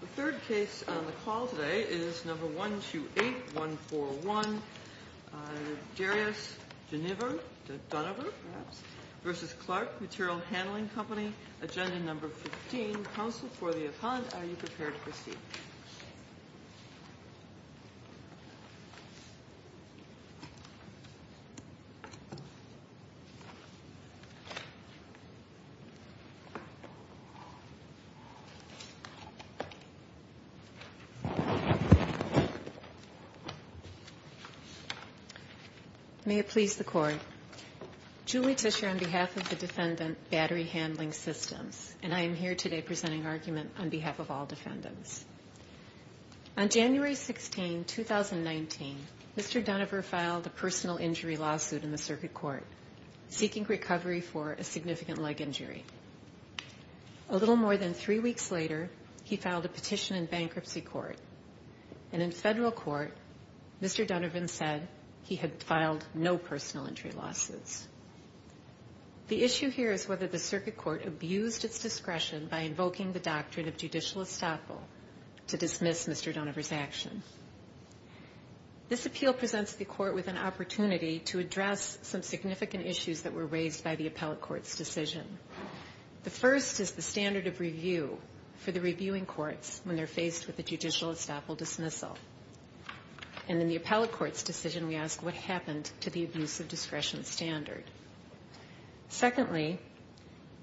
The third case on the call today is No. 128141, Darius Duniver v. Clark Material Handling Co. Agenda No. 15, Counsel for the Appellant. Are you prepared to proceed? May it please the Court. Julie Tischer on behalf of the Defendant Battery Handling Systems, and I am here today presenting argument on behalf of all defendants. On January 16, 2019, Mr. Duniver filed a personal injury lawsuit in the Circuit Court, seeking recovery for a significant leg injury. A little more than three weeks later, he filed a petition in bankruptcy court, and in federal court, Mr. Duniver said he had filed no personal injury lawsuits. The issue here is whether the Circuit Court abused its discretion by invoking the doctrine of judicial estoppel to dismiss Mr. Duniver's action. This appeal presents the Court with an opportunity to address some significant issues that were raised by the appellate court's decision. The first is the standard of review for the reviewing courts when they're faced with a judicial estoppel dismissal. And in the appellate court's decision, we ask what happened to the abuse of discretion standard. Secondly,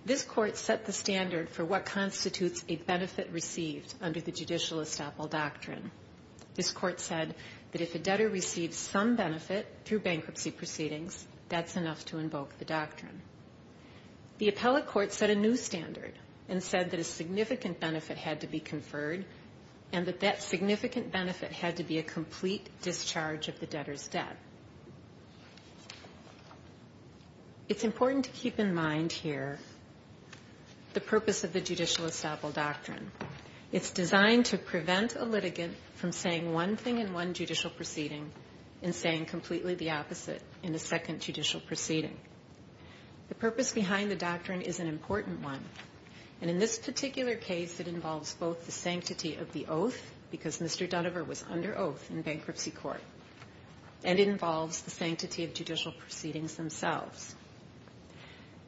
this Court set the standard for what constitutes a benefit received under the judicial estoppel doctrine. This Court said that if a debtor receives some benefit through bankruptcy proceedings, that's enough to invoke the doctrine. The appellate court set a new standard and said that a significant benefit had to be conferred, and that that significant benefit had to be a complete discharge of the debtor's debt. It's important to keep in mind here the purpose of the judicial estoppel doctrine. It's designed to prevent a litigant from saying one thing in one judicial proceeding and saying completely the opposite in a second judicial proceeding. The purpose behind the doctrine is an important one. And in this particular case, it involves both the sanctity of the oath, because Mr. Duniver was under oath in bankruptcy court, and it involves the sanctity of judicial proceedings themselves.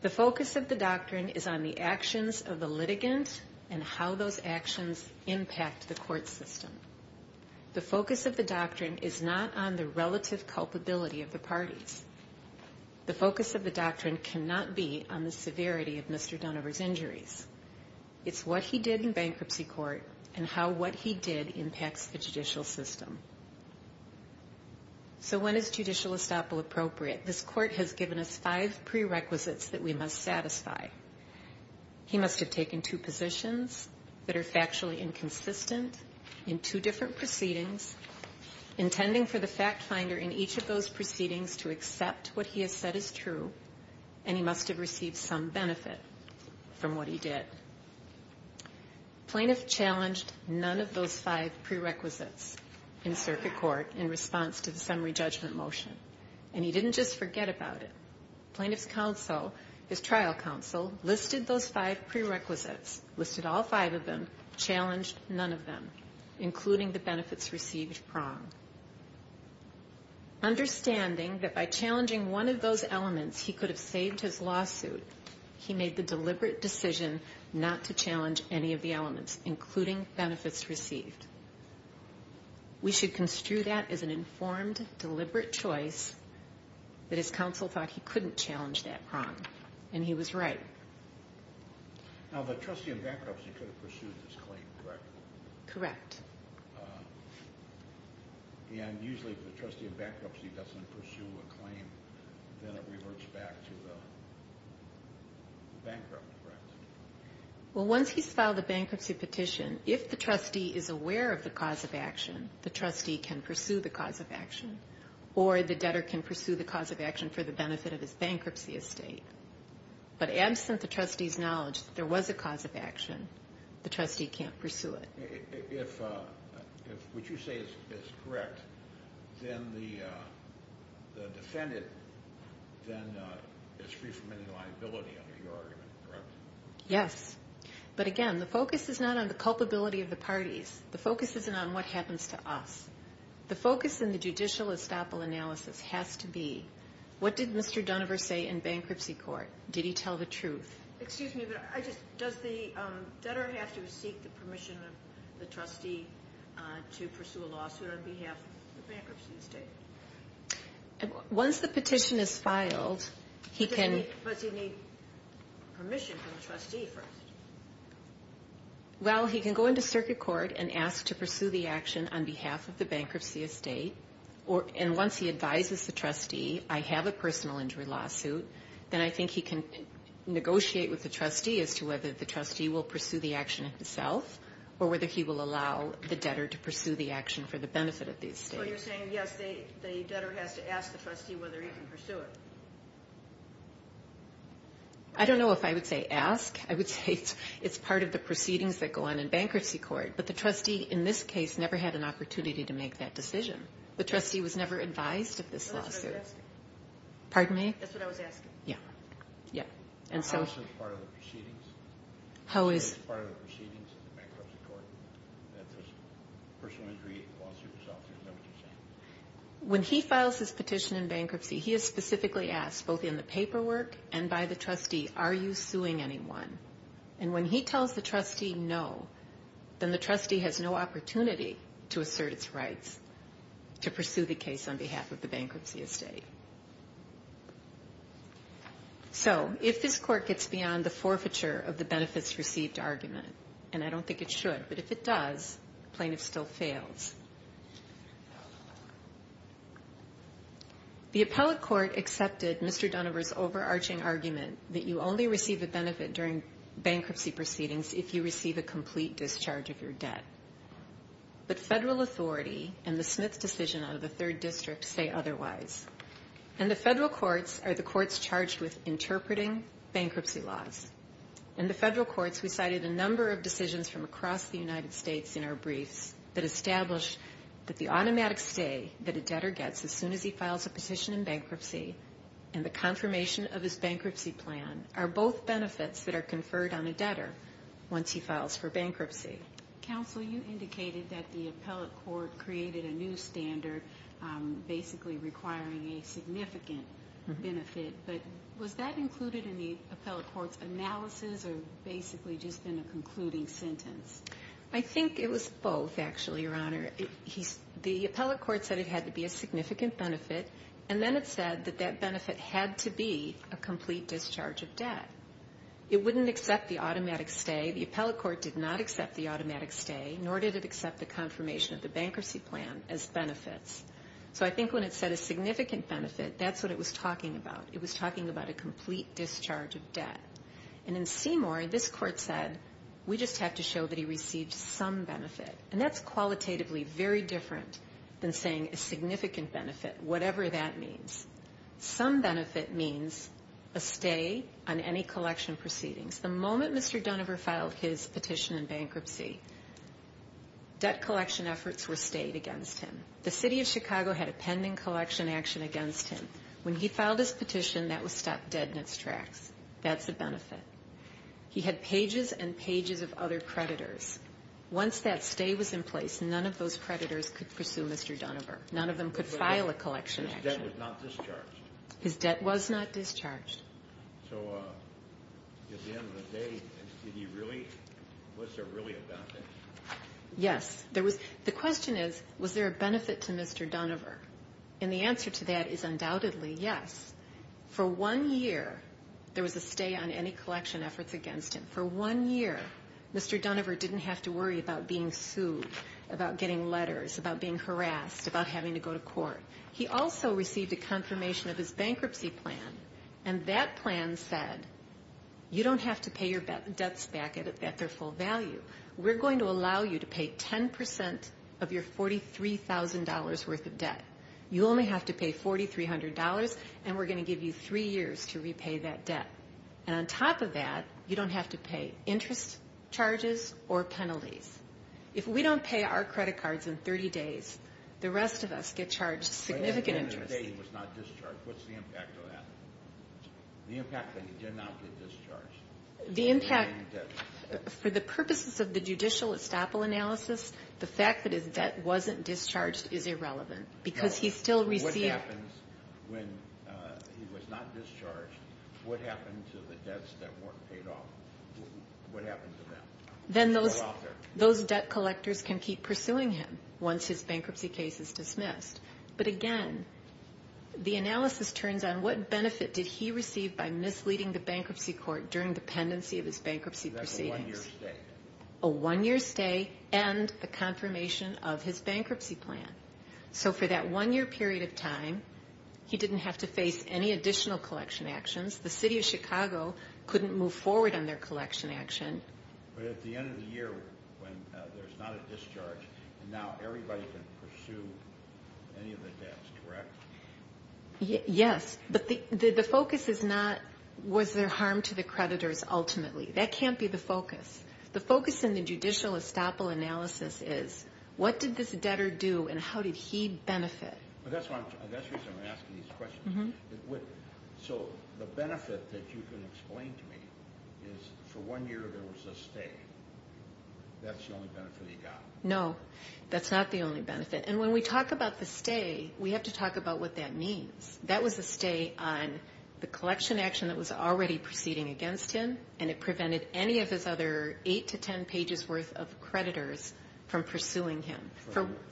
The focus of the doctrine is on the actions of the litigant and how those actions impact the court system. The focus of the doctrine is not on the relative culpability of the parties. The focus of the doctrine cannot be on the severity of Mr. Duniver's injuries. It's what he did in bankruptcy court and how what he did impacts the judicial system. So when is judicial estoppel appropriate? This Court has given us five prerequisites that we must satisfy. He must have taken two positions that are factually inconsistent in two different proceedings, intending for the fact finder in each of those proceedings to accept what he has said is true, and he must have received some benefit from what he did. Plaintiff challenged none of those five prerequisites in circuit court in response to the summary judgment motion, and he didn't just forget about it. Plaintiff's counsel, his trial counsel, listed those five prerequisites, listed all five of them, challenged none of them, including the benefits received prong. Understanding that by challenging one of those elements, he could have saved his lawsuit, he made the deliberate decision not to challenge any of the elements, including benefits received. We should construe that as an informed, deliberate choice that his counsel thought he couldn't challenge that prong, and he was right. Now, the trustee in bankruptcy could have pursued this claim, correct? Correct. And usually if the trustee in bankruptcy doesn't pursue a claim, then it reverts back to the bankrupt, correct? Well, once he's filed a bankruptcy petition, if the trustee is aware of the cause of action, the trustee can pursue the cause of action, or the debtor can pursue the cause of action for the benefit of his bankruptcy estate. But absent the trustee's knowledge that there was a cause of action, the trustee can't pursue it. If what you say is correct, then the defendant then is free from any liability under your argument, correct? Yes. But again, the focus is not on the culpability of the parties. The focus isn't on what happens to us. The focus in the judicial estoppel analysis has to be, what did Mr. Dunover say in bankruptcy court? Did he tell the truth? Excuse me, but does the debtor have to seek the permission of the trustee to pursue a lawsuit on behalf of the bankruptcy estate? Once the petition is filed, he can... Does he need permission from the trustee first? Well, he can go into circuit court and ask to pursue the action on behalf of the bankruptcy estate, and once he advises the trustee, I have a personal injury lawsuit, then I think he can negotiate with the trustee as to whether the trustee will pursue the action himself, or whether he will allow the debtor to pursue the action for the benefit of the estate. So you're saying, yes, the debtor has to ask the trustee whether he can pursue it. I don't know if I would say ask. I would say it's part of the proceedings that go on in bankruptcy court, but the trustee in this case never had an opportunity to make that decision. The trustee was never advised of this lawsuit. That's what I was asking. Pardon me? That's what I was asking. Yeah. Also, it's part of the proceedings. How is... It's part of the proceedings in the bankruptcy court. That's a personal injury lawsuit. Is that what you're saying? When he files his petition in bankruptcy, he is specifically asked, both in the paperwork and by the trustee, are you suing anyone? And when he tells the trustee no, then the trustee has no opportunity to assert its rights to pursue the case on behalf of the bankruptcy estate. So if this court gets beyond the forfeiture of the benefits received argument, and I don't think it should, but if it does, plaintiff still fails. The appellate court accepted Mr. Dunover's overarching argument that you only receive a benefit during bankruptcy proceedings if you receive a complete discharge of your debt. But federal authority and the Smith decision of the third district say otherwise. And the federal courts are the courts charged with interpreting bankruptcy laws. In the federal courts, we cited a number of decisions from across the United States in our briefs that established that the automatic stay that a debtor gets as soon as he files a petition in bankruptcy and the confirmation of his bankruptcy plan are both benefits that are conferred on a debtor once he files for bankruptcy. Counsel, you indicated that the appellate court created a new standard basically requiring a significant benefit, but was that included in the appellate court's analysis or basically just in a concluding sentence? I think it was both, actually, Your Honor. The appellate court said it had to be a significant benefit, and then it said that that benefit had to be a complete discharge of debt. It wouldn't accept the automatic stay. The appellate court did not accept the automatic stay, nor did it accept the confirmation of the bankruptcy plan as benefits. So I think when it said a significant benefit, that's what it was talking about. It was talking about a complete discharge of debt. And in Seymour, this court said we just have to show that he received some benefit. And that's qualitatively very different than saying a significant benefit, whatever that means. Some benefit means a stay on any collection proceedings. The moment Mr. Dunover filed his petition in bankruptcy, debt collection efforts were stayed against him. The city of Chicago had a pending collection action against him. When he filed his petition, that was stopped dead in its tracks. That's a benefit. He had pages and pages of other creditors. Once that stay was in place, none of those creditors could pursue Mr. Dunover. None of them could file a collection action. His debt was not discharged. His debt was not discharged. So at the end of the day, was there really a benefit? Yes. The question is, was there a benefit to Mr. Dunover? And the answer to that is undoubtedly yes. For one year, there was a stay on any collection efforts against him. For one year, Mr. Dunover didn't have to worry about being sued, about getting letters, about being harassed, about having to go to court. He also received a confirmation of his bankruptcy plan, and that plan said, you don't have to pay your debts back at their full value. We're going to allow you to pay 10% of your $43,000 worth of debt. You only have to pay $4,300, and we're going to give you three years to repay that debt. And on top of that, you don't have to pay interest charges or penalties. If we don't pay our credit cards in 30 days, the rest of us get charged significant interest. But at the end of the day, he was not discharged. What's the impact of that? The impact that he did not get discharged. The impact, for the purposes of the judicial estoppel analysis, the fact that his debt wasn't discharged is irrelevant because he still received. What happens when he was not discharged? What happened to the debts that weren't paid off? What happened to them? Then those debt collectors can keep pursuing him once his bankruptcy case is dismissed. But again, the analysis turns on what benefit did he receive by misleading the bankruptcy court during the pendency of his bankruptcy proceedings. That's a one-year stay. A one-year stay and a confirmation of his bankruptcy plan. So for that one-year period of time, he didn't have to face any additional collection actions. The city of Chicago couldn't move forward on their collection action. But at the end of the year, when there's not a discharge, now everybody can pursue any of the debts, correct? Yes, but the focus is not was there harm to the creditors ultimately. That can't be the focus. The focus in the judicial estoppel analysis is what did this debtor do and how did he benefit? That's the reason I'm asking these questions. So the benefit that you can explain to me is for one year there was a stay. That's the only benefit he got? No, that's not the only benefit. And when we talk about the stay, we have to talk about what that means. That was a stay on the collection action that was already proceeding against him, and it prevented any of his other 8 to 10 pages worth of creditors from pursuing him.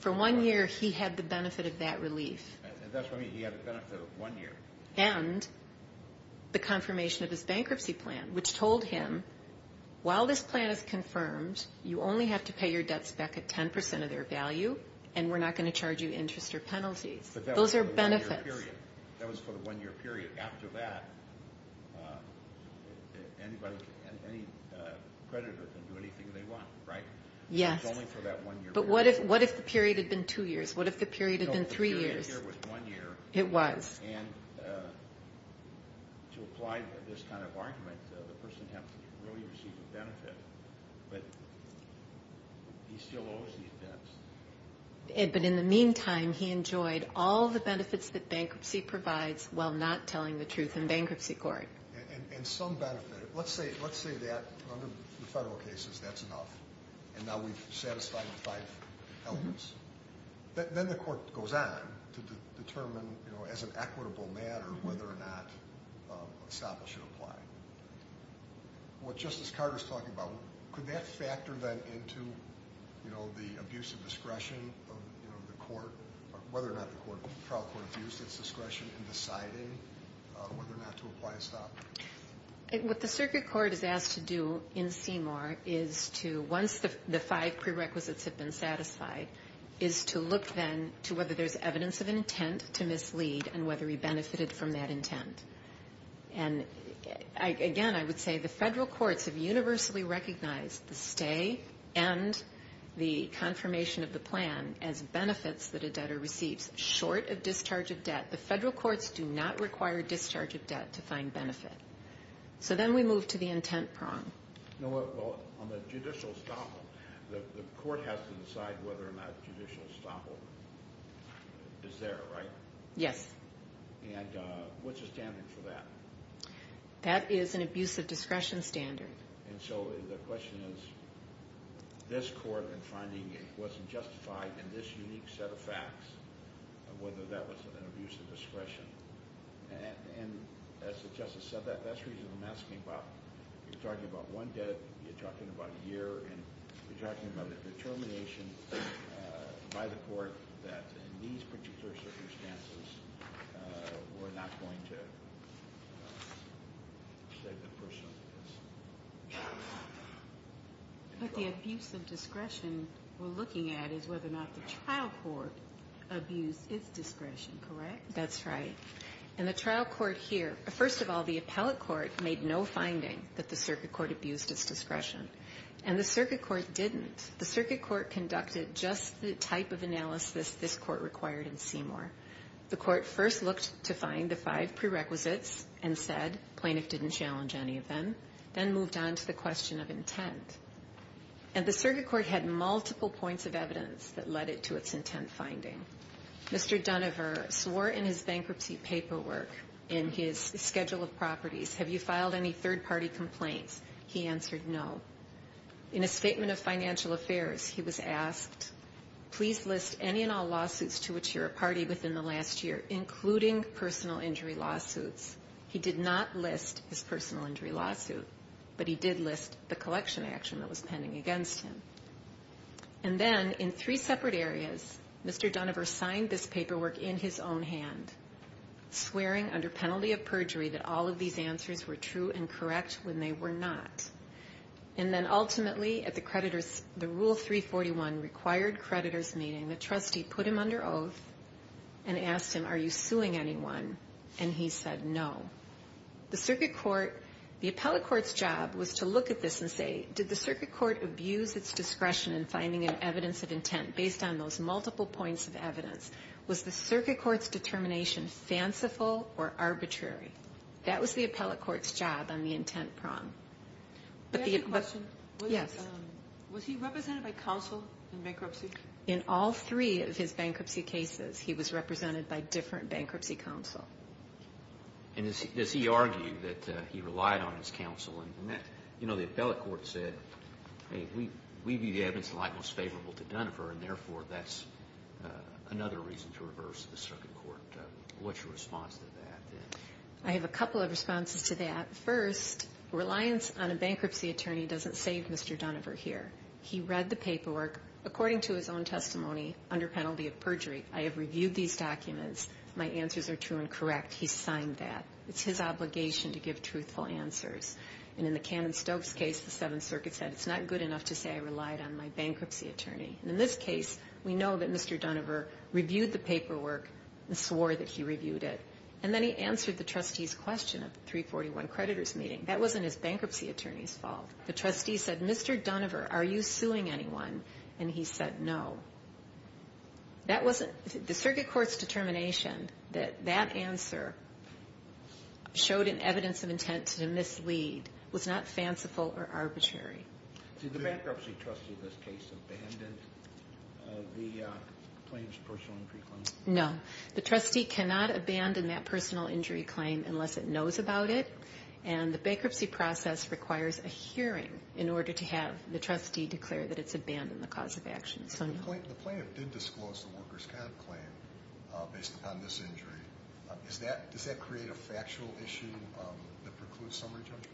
For one year, he had the benefit of that relief. That's what I mean, he had the benefit of one year. And the confirmation of his bankruptcy plan, which told him, while this plan is confirmed, you only have to pay your debts back at 10% of their value, and we're not going to charge you interest or penalties. But that was for the one-year period. That was for the one-year period. After that, any creditor can do anything they want, right? Yes. It was only for that one-year period. But what if the period had been two years? What if the period had been three years? No, the period here was one year. It was. And to apply this kind of argument, the person hasn't really received a benefit, but he still owes these debts. But in the meantime, he enjoyed all the benefits that bankruptcy provides while not telling the truth in bankruptcy court. And some benefit. Let's say that, under the federal cases, that's enough, and now we've satisfied the five elements. Then the court goes on to determine, as an equitable matter, whether or not estoppel should apply. What Justice Carter is talking about, could that factor then into the abuse of discretion of the court, or whether or not the trial court abused its discretion in deciding whether or not to apply estoppel? What the circuit court is asked to do in Seymour is to, once the five prerequisites have been satisfied, is to look then to whether there's evidence of intent to mislead and whether he benefited from that intent. And, again, I would say the federal courts have universally recognized the stay and the confirmation of the plan as benefits that a debtor receives, short of discharge of debt. The federal courts do not require discharge of debt to find benefit. So then we move to the intent prong. No, well, on the judicial estoppel, the court has to decide whether or not judicial estoppel is there, right? Yes. And what's the standard for that? That is an abuse of discretion standard. And so the question is, this court in finding it wasn't justified in this unique set of facts, whether that was an abuse of discretion. And as the Justice said that, that's the reason I'm asking about, you're talking about one debt, you're talking about a year, and you're talking about a determination by the court that in these particular circumstances, we're not going to say the first sentence. But the abuse of discretion we're looking at is whether or not the trial court abused its discretion, correct? That's right. And the trial court here, first of all, the appellate court made no finding that the circuit court abused its discretion. And the circuit court didn't. The circuit court conducted just the type of analysis this court required in Seymour. The court first looked to find the five prerequisites and said, plaintiff didn't challenge any of them, then moved on to the question of intent. And the circuit court had multiple points of evidence that led it to its intent finding. Mr. Donover swore in his bankruptcy paperwork, in his schedule of properties, have you filed any third-party complaints? He answered no. In his statement of financial affairs, he was asked, please list any and all lawsuits to which you're a party within the last year, including personal injury lawsuits. He did not list his personal injury lawsuit, but he did list the collection action that was pending against him. And then in three separate areas, Mr. Donover signed this paperwork in his own hand, swearing under penalty of perjury that all of these answers were true and correct when they were not. And then ultimately, at the creditors, the Rule 341 required creditors meeting, the trustee put him under oath and asked him, are you suing anyone? And he said no. The circuit court, the appellate court's job was to look at this and say, did the circuit court abuse its discretion in finding evidence of intent based on those multiple points of evidence? Was the circuit court's determination fanciful or arbitrary? That was the appellate court's job on the intent prong. Can I ask you a question? Yes. Was he represented by counsel in bankruptcy? In all three of his bankruptcy cases, he was represented by different bankruptcy counsel. And does he argue that he relied on his counsel? You know, the appellate court said, hey, we view the evidence of the like most favorable to Dunover, and therefore that's another reason to reverse the circuit court. What's your response to that? I have a couple of responses to that. First, reliance on a bankruptcy attorney doesn't save Mr. Dunover here. He read the paperwork. According to his own testimony, under penalty of perjury, I have reviewed these documents. My answers are true and correct. He signed that. It's his obligation to give truthful answers. And in the Cannon-Stokes case, the Seventh Circuit said it's not good enough to say I relied on my bankruptcy attorney. And in this case, we know that Mr. Dunover reviewed the paperwork and swore that he reviewed it. And then he answered the trustee's question at the 341 creditors' meeting. That wasn't his bankruptcy attorney's fault. The trustee said, Mr. Dunover, are you suing anyone? And he said no. That wasn't the circuit court's determination that that answer showed an evidence of intent to mislead was not fanciful or arbitrary. Did the bankruptcy trustee in this case abandon the plaintiff's personal injury claim? No. The trustee cannot abandon that personal injury claim unless it knows about it. And the bankruptcy process requires a hearing in order to have the trustee declare that it's abandoned the cause of action. So no. The plaintiff did disclose the worker's comp claim based upon this injury. Does that create a factual issue that precludes summary judgment?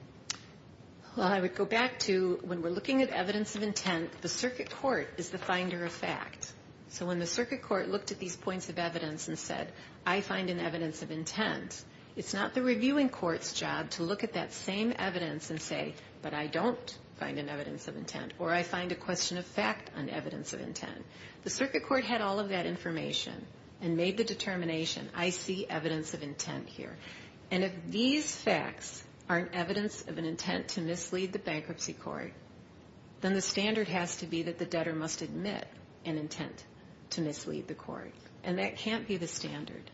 Well, I would go back to when we're looking at evidence of intent, the circuit court is the finder of fact. So when the circuit court looked at these points of evidence and said, I find an evidence of intent, it's not the reviewing court's job to look at that same evidence and say, but I don't find an evidence of intent or I find a question of fact on evidence of intent. The circuit court had all of that information and made the determination, I see evidence of intent here. And if these facts aren't evidence of an intent to mislead the bankruptcy court, then the standard has to be that the debtor must admit an intent to mislead the court. And that can't be the standard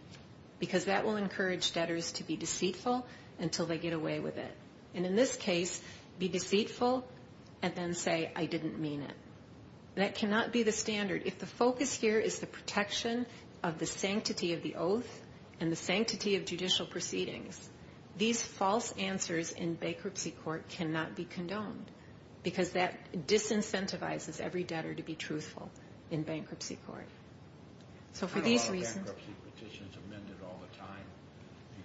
because that will encourage debtors to be deceitful until they get away with it. And in this case, be deceitful and then say, I didn't mean it. That cannot be the standard. If the focus here is the protection of the sanctity of the oath and the sanctity of judicial proceedings, these false answers in bankruptcy court cannot be condoned because that disincentivizes every debtor to be truthful in bankruptcy court. So for these reasons... How are bankruptcy petitions amended all the time?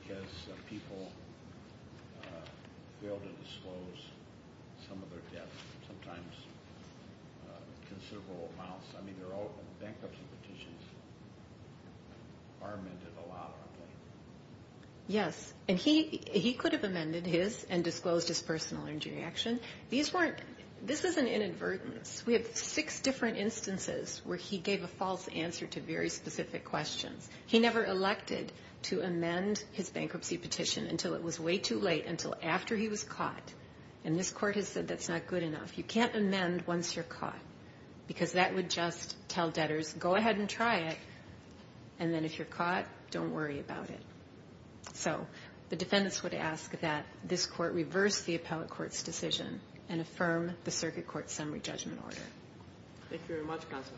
Because people fail to disclose some of their debts, sometimes considerable amounts. I mean, bankruptcy petitions are amended a lot, aren't they? Yes, and he could have amended his and disclosed his personal injury action. These weren't, this is an inadvertence. We have six different instances where he gave a false answer to very specific questions. He never elected to amend his bankruptcy petition until it was way too late, until after he was caught. And this court has said that's not good enough. You can't amend once you're caught because that would just tell debtors, go ahead and try it, and then if you're caught, don't worry about it. So the defendants would ask that this court reverse the appellate court's decision and affirm the circuit court's summary judgment order. Thank you very much, Counsel.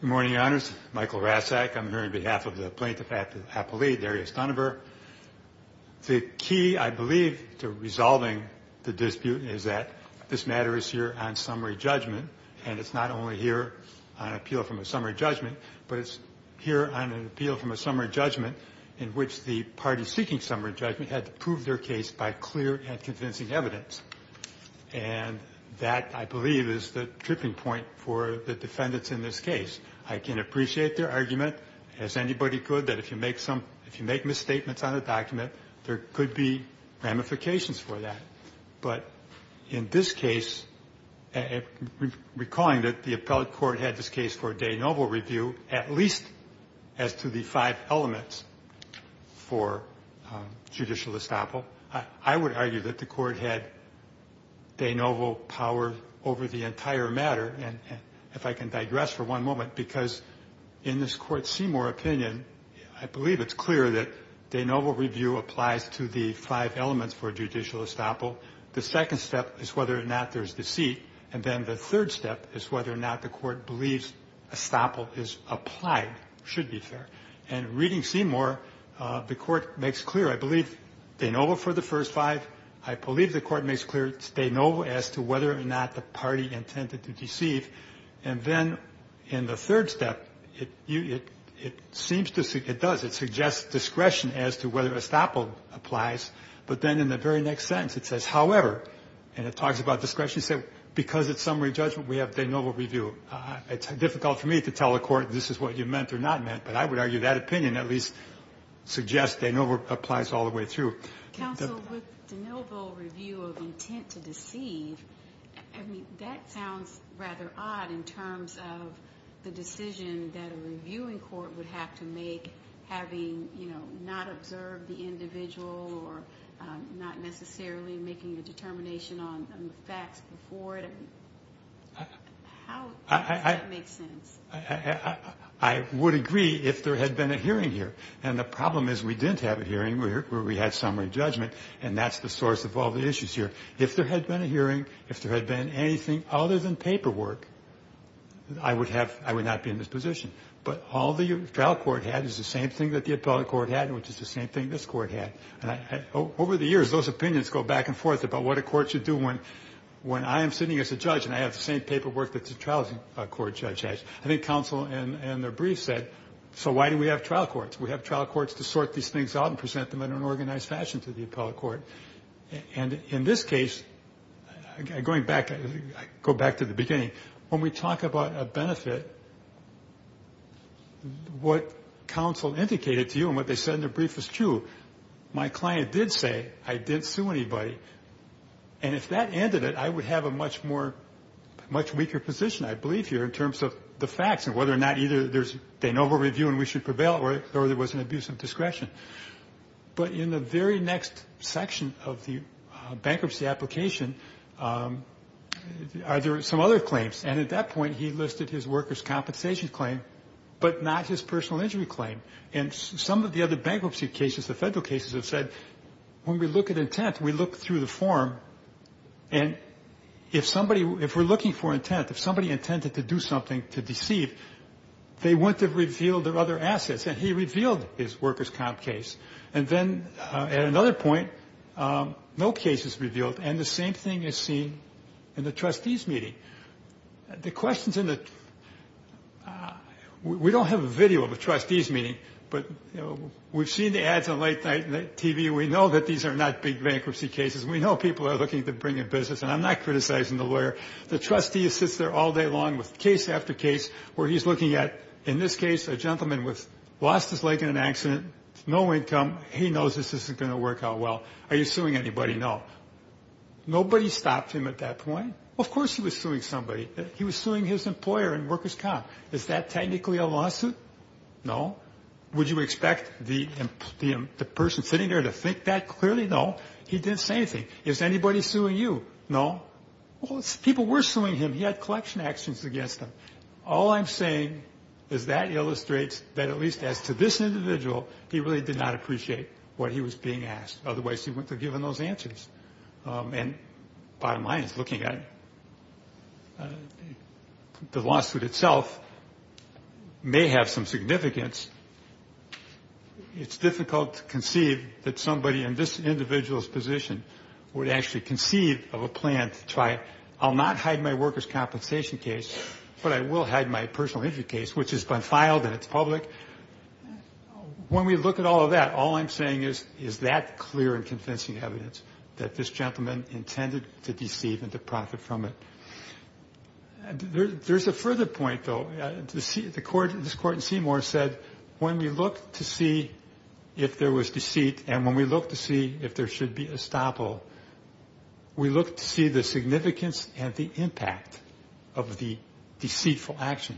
Good morning, Your Honors. Michael Rassak. I'm here on behalf of the plaintiff's appellate, Darius Donover. The key, I believe, to resolving the dispute is that this matter is here on summary judgment, and it's not only here on appeal from a summary judgment, but it's here on an appeal from a summary judgment in which the party seeking summary judgment had to prove their case by clear and convincing evidence. And that, I believe, is the tripping point for the defendants in this case. I can appreciate their argument, as anybody could, that if you make misstatements on a document, there could be ramifications for that. But in this case, recalling that the appellate court had this case for de novo review, at least as to the five elements for judicial estoppel, I would argue that the court had de novo power over the entire matter. And if I can digress for one moment, because in this Court Seymour opinion, I believe it's clear that de novo review applies to the five elements for judicial estoppel. The second step is whether or not there's deceit. And then the third step is whether or not the court believes estoppel is applied, should be fair. And reading Seymour, the Court makes clear, I believe, de novo for the first five. I believe the Court makes clear it's de novo as to whether or not the party intended to deceive. And then in the third step, it seems to see it does. It suggests discretion as to whether estoppel applies. But then in the very next sentence, it says, however, and it talks about discretion. It said, because it's summary judgment, we have de novo review. It's difficult for me to tell a court this is what you meant or not meant, but I would argue that opinion at least suggests de novo applies all the way through. Counsel, with de novo review of intent to deceive, I mean, that sounds rather odd in terms of the decision that a reviewing court would have to make having, you know, not observed the individual or not necessarily making a determination on the facts before it. How does that make sense? I would agree if there had been a hearing here. And the problem is we didn't have a hearing. We had summary judgment. And that's the source of all the issues here. If there had been a hearing, if there had been anything other than paperwork, I would not be in this position. But all the trial court had is the same thing that the appellate court had, which is the same thing this court had. Over the years, those opinions go back and forth about what a court should do when I am sitting as a judge and I have the same paperwork that the trial court judge has. I think counsel in their brief said, so why do we have trial courts? We have trial courts to sort these things out and present them in an organized fashion to the appellate court. And in this case, going back, I go back to the beginning. When we talk about a benefit, what counsel indicated to you and what they said in their brief is true. My client did say I didn't sue anybody. And if that ended it, I would have a much more, much weaker position, I believe here, in terms of the facts and whether or not either there's de novo review and we should avail or there was an abuse of discretion. But in the very next section of the bankruptcy application, are there some other claims? And at that point, he listed his workers' compensation claim, but not his personal injury claim. And some of the other bankruptcy cases, the federal cases, have said when we look at intent, we look through the form. And if somebody, if we're looking for intent, if somebody intended to do something to deceive, they wouldn't have revealed their other assets. And he revealed his workers' comp case. And then at another point, no case is revealed. And the same thing is seen in the trustees' meeting. The questions in the we don't have a video of the trustees' meeting, but we've seen the ads on late night TV. We know that these are not big bankruptcy cases. We know people are looking to bring in business. And I'm not criticizing the lawyer. The trustee sits there all day long with case after case where he's looking at, in this case, a gentleman lost his leg in an accident, no income. He knows this isn't going to work out well. Are you suing anybody? No. Nobody stopped him at that point. Of course he was suing somebody. He was suing his employer and workers' comp. Is that technically a lawsuit? No. Would you expect the person sitting there to think that? Clearly no. He didn't say anything. Is anybody suing you? No. Well, people were suing him. He had collection actions against him. All I'm saying is that illustrates that at least as to this individual, he really did not appreciate what he was being asked. Otherwise, he wouldn't have given those answers. And bottom line is looking at it, the lawsuit itself may have some significance. It's difficult to conceive that somebody in this individual's position would actually conceive of a plan to try. I'll not hide my workers' compensation case, but I will hide my personal injury case, which has been filed and it's public. When we look at all of that, all I'm saying is that clear and convincing evidence that this gentleman intended to deceive and to profit from it. There's a further point, though. This court in Seymour said when we look to see if there was deceit and when we look to see if there should be estoppel, we look to see the significance and the impact of the deceitful action.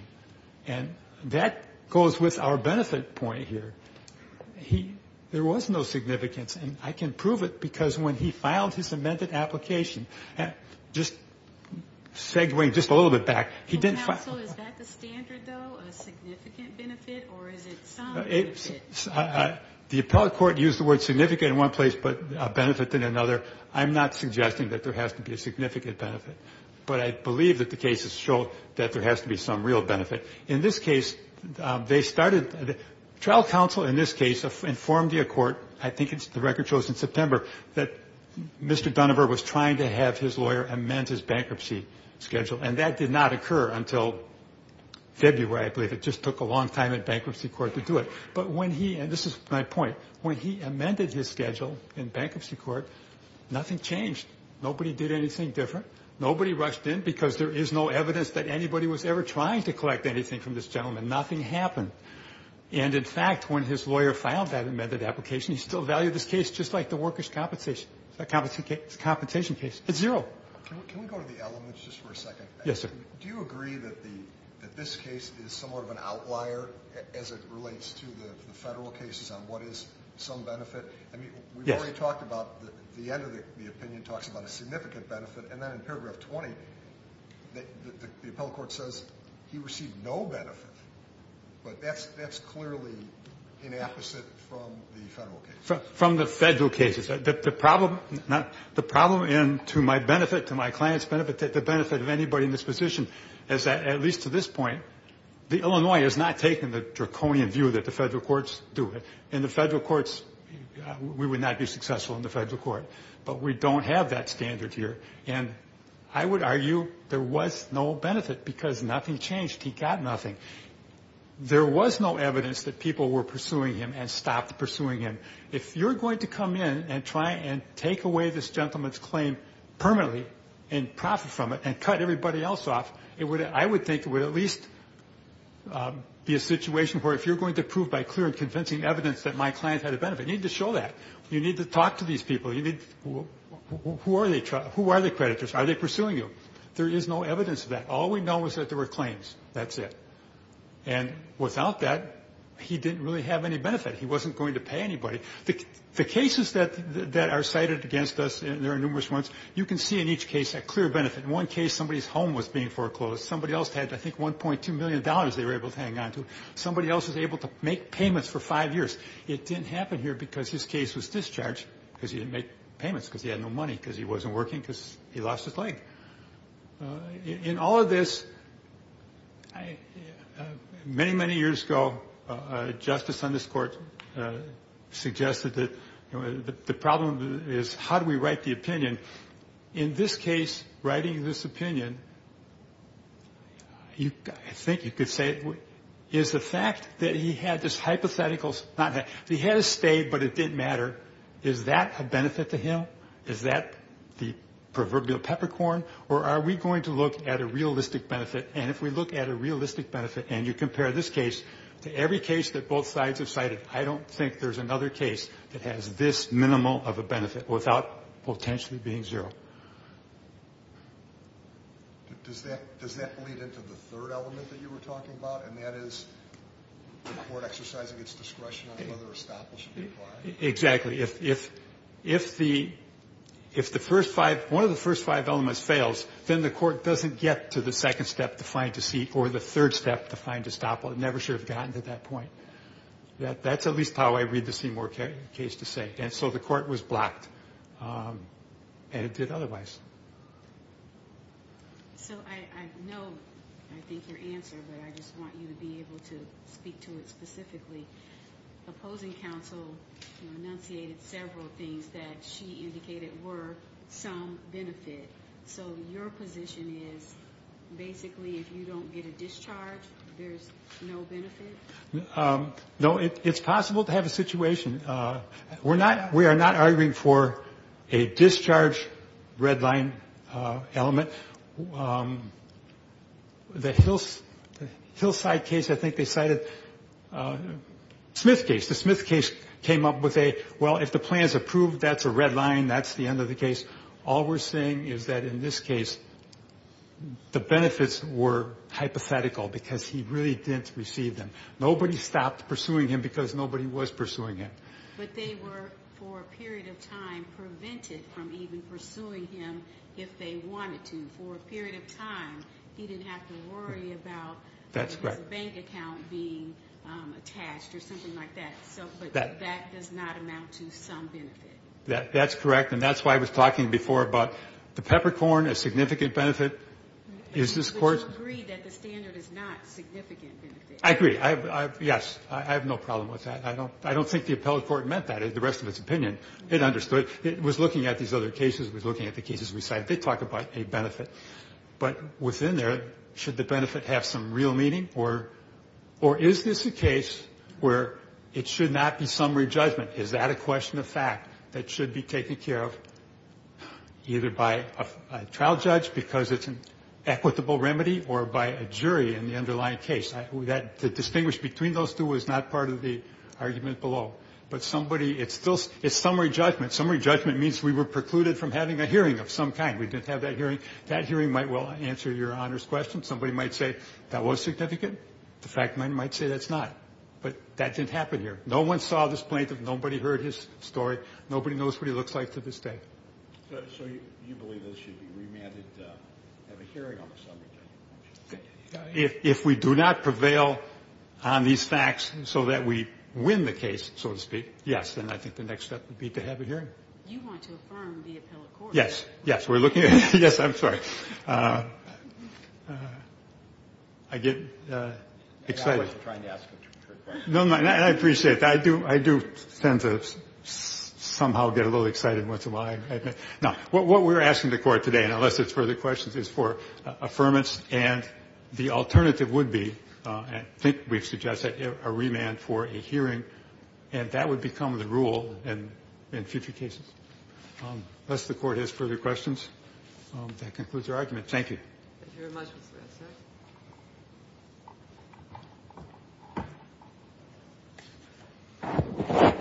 And that goes with our benefit point here. There was no significance, and I can prove it because when he filed his amended application, just segueing just a little bit back, he didn't file it. Counsel, is that the standard, though, a significant benefit or is it some benefit? The appellate court used the word significant in one place but a benefit in another. I'm not suggesting that there has to be a significant benefit, but I believe that the cases show that there has to be some real benefit. In this case, they started the trial counsel in this case informed the court, I think the record shows in September, that Mr. Dunnevar was trying to have his lawyer amend his bankruptcy schedule, and that did not occur until February, I believe. It just took a long time in bankruptcy court to do it. But when he, and this is my point, when he amended his schedule in bankruptcy court, nothing changed. Nobody did anything different. Nobody rushed in because there is no evidence that anybody was ever trying to collect anything from this gentleman. Nothing happened. And, in fact, when his lawyer filed that amended application, he still valued this case just like the workers' compensation. It's a compensation case. It's zero. Can we go to the elements just for a second? Yes, sir. Do you agree that this case is somewhat of an outlier as it relates to the Federal cases on what is some benefit? I mean, we've already talked about the end of the opinion talks about a significant benefit, and then in paragraph 20, the appellate court says he received no benefit. But that's clearly an opposite from the Federal cases. From the Federal cases. The problem, and to my benefit, to my client's benefit, the benefit of anybody in this position is that, at least to this point, the Illinois has not taken the draconian view that the Federal courts do it. In the Federal courts, we would not be successful in the Federal court. But we don't have that standard here. And I would argue there was no benefit because nothing changed. He got nothing. There was no evidence that people were pursuing him and stopped pursuing him. If you're going to come in and try and take away this gentleman's claim permanently and profit from it and cut everybody else off, I would think it would at least be a situation where if you're going to prove by clear and convincing evidence that my client had a benefit, you need to show that. You need to talk to these people. Who are the creditors? Are they pursuing you? There is no evidence of that. All we know is that there were claims. That's it. And without that, he didn't really have any benefit. He wasn't going to pay anybody. The cases that are cited against us, there are numerous ones, you can see in each case a clear benefit. In one case, somebody's home was being foreclosed. Somebody else had, I think, $1.2 million they were able to hang on to. Somebody else was able to make payments for five years. It didn't happen here because his case was discharged because he didn't make payments because he had no money because he wasn't working because he lost his leg. In all of this, many, many years ago, a justice on this court suggested that the problem is how do we write the opinion? In this case, writing this opinion, I think you could say is the fact that he had this hypothetical, he had a stay, but it didn't matter, is that a benefit to him? Is that the proverbial peppercorn, or are we going to look at a realistic benefit? And if we look at a realistic benefit and you compare this case to every case that both sides have cited, I don't think there's another case that has this minimal of a benefit without potentially being zero. Does that lead into the third element that you were talking about, and that is the court exercising its discretion on whether a stop will be applied? Exactly. If one of the first five elements fails, then the court doesn't get to the second step to find a seat or the third step to find a stop. It never should have gotten to that point. That's at least how I read the Seymour case to say. And so the court was blocked, and it did otherwise. So I know, I think, your answer, but I just want you to be able to speak to it specifically. The opposing counsel enunciated several things that she indicated were some benefit. So your position is basically if you don't get a discharge, there's no benefit? No, it's possible to have a situation. We are not arguing for a discharge red line element. The Hillside case, I think they cited Smith case. The Smith case came up with a, well, if the plan is approved, that's a red line, that's the end of the case. All we're saying is that in this case, the benefits were hypothetical because he really didn't receive them. Nobody stopped pursuing him because nobody was pursuing him. But they were, for a period of time, prevented from even pursuing him if they wanted to. For a period of time, he didn't have to worry about his bank account being attached or something like that. But that does not amount to some benefit. That's correct, and that's why I was talking before about the peppercorn, a significant benefit. But you agree that the standard is not significant benefit. I agree. Yes, I have no problem with that. I don't think the appellate court meant that. The rest of its opinion, it understood. It was looking at these other cases. It was looking at the cases we cited. They talk about a benefit. But within there, should the benefit have some real meaning? Or is this a case where it should not be summary judgment? Is that a question of fact that should be taken care of either by a trial judge because it's an equitable remedy or by a jury in the underlying case? The distinguish between those two is not part of the argument below. But it's still summary judgment. Summary judgment means we were precluded from having a hearing of some kind. We didn't have that hearing. That hearing might well answer Your Honor's question. Somebody might say that was significant. The fact might say that's not. But that didn't happen here. No one saw this plaintiff. Nobody heard his story. Nobody knows what he looks like to this day. So you believe this should be remanded to have a hearing on the summary judgment? If we do not prevail on these facts so that we win the case, so to speak, yes, then I think the next step would be to have a hearing. You want to affirm the appellate court. Yes. Yes. We're looking at it. Yes, I'm sorry. I get excited. I wasn't trying to ask a trick question. No, no. I appreciate that. I do tend to somehow get a little excited once in a while. Now, what we're asking the court today, and unless there's further questions, is for affirmance. And the alternative would be, I think we've suggested, a remand for a hearing. And that would become the rule in future cases. Unless the court has further questions, that concludes our argument. Thank you. Thank you very much, Mr. Edson. Thank you.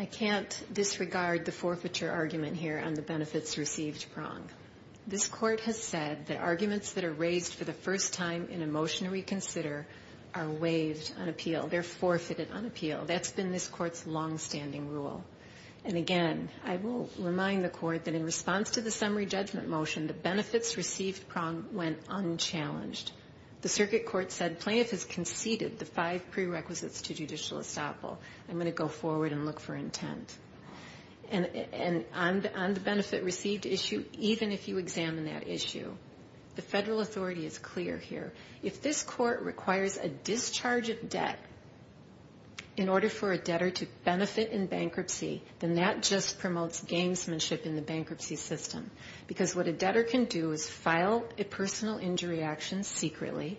I can't disregard the forfeiture argument here on the benefits received wrong. This court has said that arguments that are raised for the first time in a motion to reconsider are waived on appeal. They're forfeited on appeal. That's been this court's longstanding rule. And, again, I will remind the court that in response to the summary judgment motion, the benefits received wrong went unchallenged. The circuit court said plaintiff has conceded the five prerequisites to judicial estoppel. I'm going to go forward and look for intent. And on the benefit received issue, even if you examine that issue, the federal authority is clear here. If this court requires a discharge of debt in order for a debtor to benefit in bankruptcy, then that just promotes gamesmanship in the bankruptcy system. Because what a debtor can do is file a personal injury action secretly,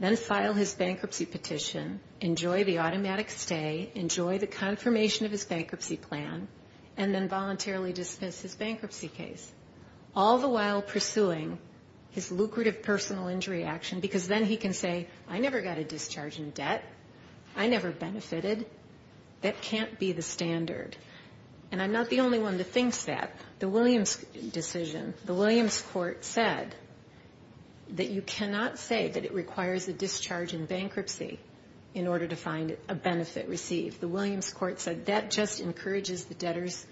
then file his bankruptcy petition, enjoy the automatic stay, enjoy the confirmation of his bankruptcy plan, and then voluntarily dismiss his bankruptcy case, all the while pursuing his lucrative personal injury action because then he can say, I never got a discharge in debt. I never benefited. That can't be the standard. And I'm not the only one that thinks that. The Williams decision, the Williams court said that you cannot say that it requires a discharge in bankruptcy in order to find a benefit received. The Williams court said that just encourages the debtors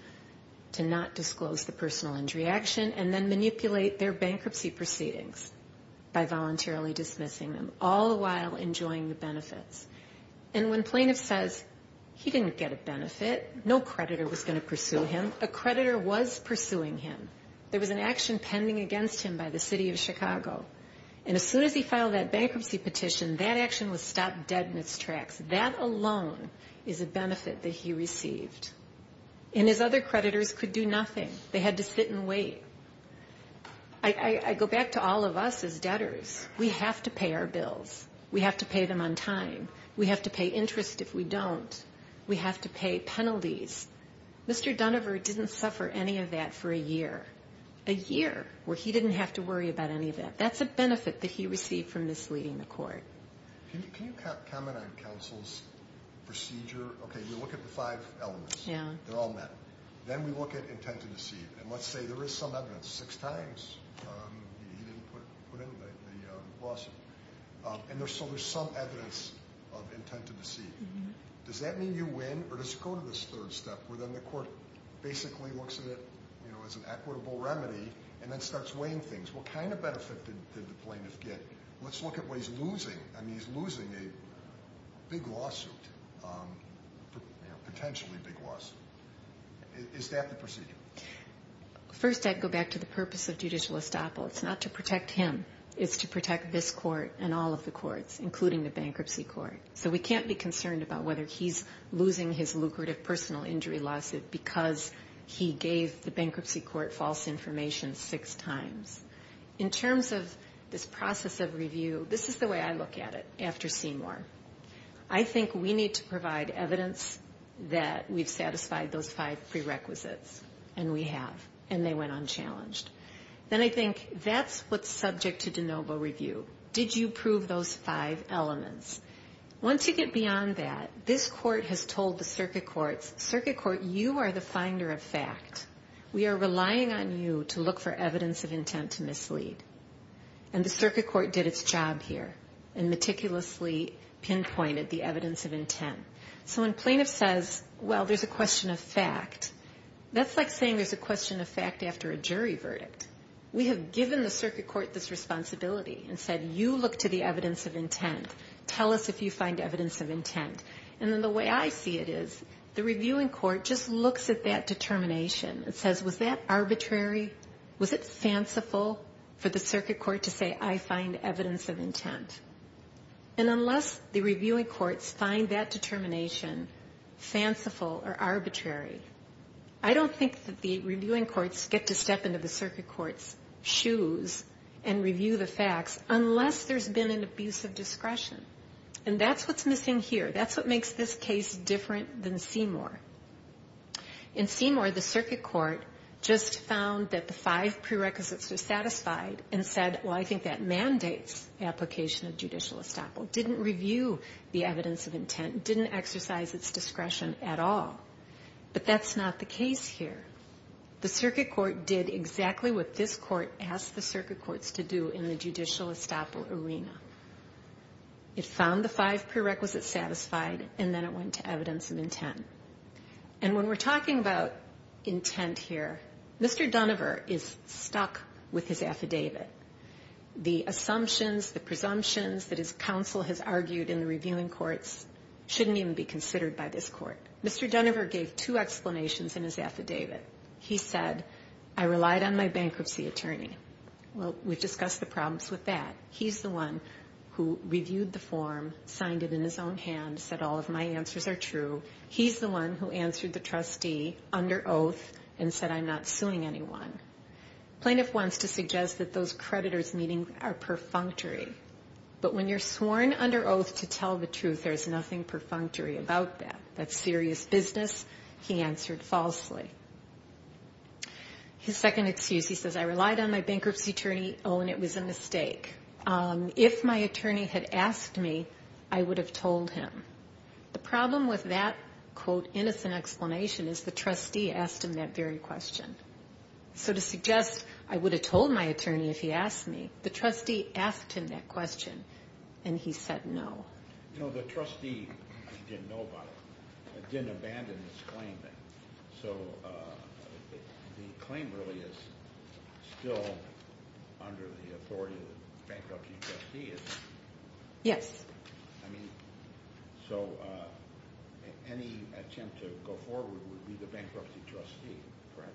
to not disclose the personal injury action and then manipulate their bankruptcy proceedings by voluntarily dismissing them, all the while enjoying the benefits. And when plaintiff says he didn't get a benefit, no creditor was going to pursue him, a creditor was pursuing him. There was an action pending against him by the city of Chicago. And as soon as he filed that bankruptcy petition, that action was stopped dead in its tracks. That alone is a benefit that he received. And his other creditors could do nothing. They had to sit and wait. I go back to all of us as debtors. We have to pay our bills. We have to pay them on time. We have to pay interest if we don't. We have to pay penalties. Mr. Dunover didn't suffer any of that for a year. A year where he didn't have to worry about any of that. That's a benefit that he received from misleading the court. Can you comment on counsel's procedure? Okay, we look at the five elements. They're all met. Then we look at intent to deceive. And let's say there is some evidence. Six times he didn't put in the lawsuit. And so there's some evidence of intent to deceive. Does that mean you win? Or does it go to this third step where then the court basically looks at it as an equitable remedy and then starts weighing things. What kind of benefit did the plaintiff get? Let's look at what he's losing. I mean, he's losing a big lawsuit. Potentially a big lawsuit. Is that the procedure? First, I'd go back to the purpose of judicial estoppel. It's not to protect him. It's to protect this court and all of the courts, including the bankruptcy court. So we can't be concerned about whether he's losing his lucrative personal injury lawsuit because he gave the bankruptcy court false information six times. In terms of this process of review, this is the way I look at it after Seymour. I think we need to provide evidence that we've satisfied those five prerequisites. And we have. And they went unchallenged. Then I think that's what's subject to de novo review. Did you prove those five elements? Once you get beyond that, this court has told the circuit courts, circuit court, you are the finder of fact. We are relying on you to look for evidence of intent to mislead. And the circuit court did its job here and meticulously pinpointed the evidence of intent. So when plaintiff says, well, there's a question of fact, that's like saying there's a question of fact after a jury verdict. We have given the circuit court this responsibility and said, you look to the evidence of intent. Tell us if you find evidence of intent. And then the way I see it is the reviewing court just looks at that determination and says, was that arbitrary? Was it fanciful for the circuit court to say, I find evidence of intent? I don't think that the reviewing courts get to step into the circuit court's shoes and review the facts unless there's been an abuse of discretion. And that's what's missing here. That's what makes this case different than Seymour. In Seymour, the circuit court just found that the five prerequisites were satisfied and said, well, I think that mandates application of judicial estoppel, didn't review the evidence of intent, didn't exercise its discretion at all. But that's not the case here. The circuit court did exactly what this court asked the circuit courts to do in the judicial estoppel arena. It found the five prerequisites satisfied, and then it went to evidence of intent. And when we're talking about intent here, Mr. Dunover is stuck with his affidavit. The assumptions, the presumptions that his counsel has argued in the reviewing courts shouldn't even be considered by this court. Mr. Dunover gave two explanations in his affidavit. He said, I relied on my bankruptcy attorney. Well, we've discussed the problems with that. He's the one who reviewed the form, signed it in his own hand, said all of my answers are true. He's the one who answered the trustee under oath and said I'm not suing anyone. Plaintiff wants to suggest that those creditors meeting are perfunctory. But when you're sworn under oath to tell the truth, there's nothing perfunctory about that. That's serious business. He answered falsely. His second excuse, he says, I relied on my bankruptcy attorney. Oh, and it was a mistake. If my attorney had asked me, I would have told him. The problem with that, quote, innocent explanation is the trustee asked him that very question. So to suggest I would have told my attorney if he asked me, the trustee asked him that question, and he said no. You know, the trustee didn't know about it. It didn't abandon its claim. So the claim really is still under the authority of the bankruptcy trustee, is it? Yes. I mean, so any attempt to go forward would be the bankruptcy trustee, correct?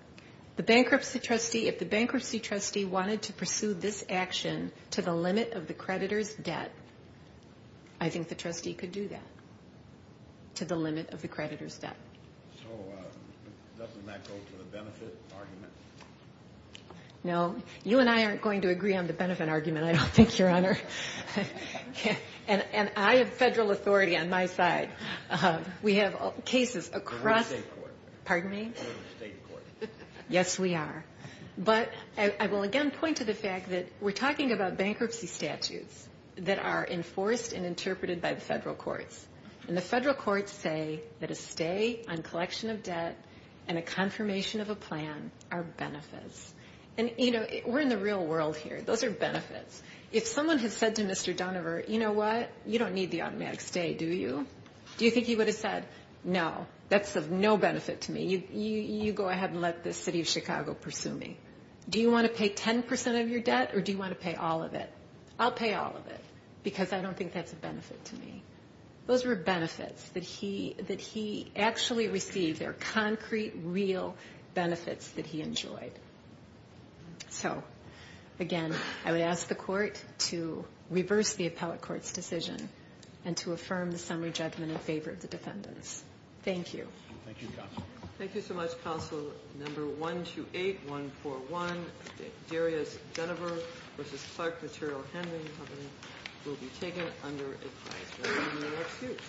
The bankruptcy trustee, if the bankruptcy trustee wanted to pursue this action to the limit of the creditor's debt, I think the trustee could do that, to the limit of the creditor's debt. So doesn't that go to the benefit argument? No. You and I aren't going to agree on the benefit argument, I don't think, Your Honor. And I have federal authority on my side. We have cases across the state court. Yes, we are. But I will again point to the fact that we're talking about bankruptcy statutes that are enforced and interpreted by the federal courts. And the federal courts say that a stay on collection of debt and a confirmation of a plan are benefits. And, you know, we're in the real world here. Those are benefits. If someone had said to Mr. Donover, you know what, you don't need the automatic stay, do you? Do you think he would have said, no, that's of no benefit to me. You go ahead and let the city of Chicago pursue me. Do you want to pay 10 percent of your debt or do you want to pay all of it? I'll pay all of it because I don't think that's a benefit to me. Those were benefits that he actually received. They're concrete, real benefits that he enjoyed. So, again, I would ask the court to reverse the appellate court's decision and to affirm the summary judgment in favor of the defendants. Thank you. Thank you, Counsel. Thank you so much, Counsel. Number 128141, Darius Donover v. Clark Material Handling Company, will be taken under advisory. Thank you.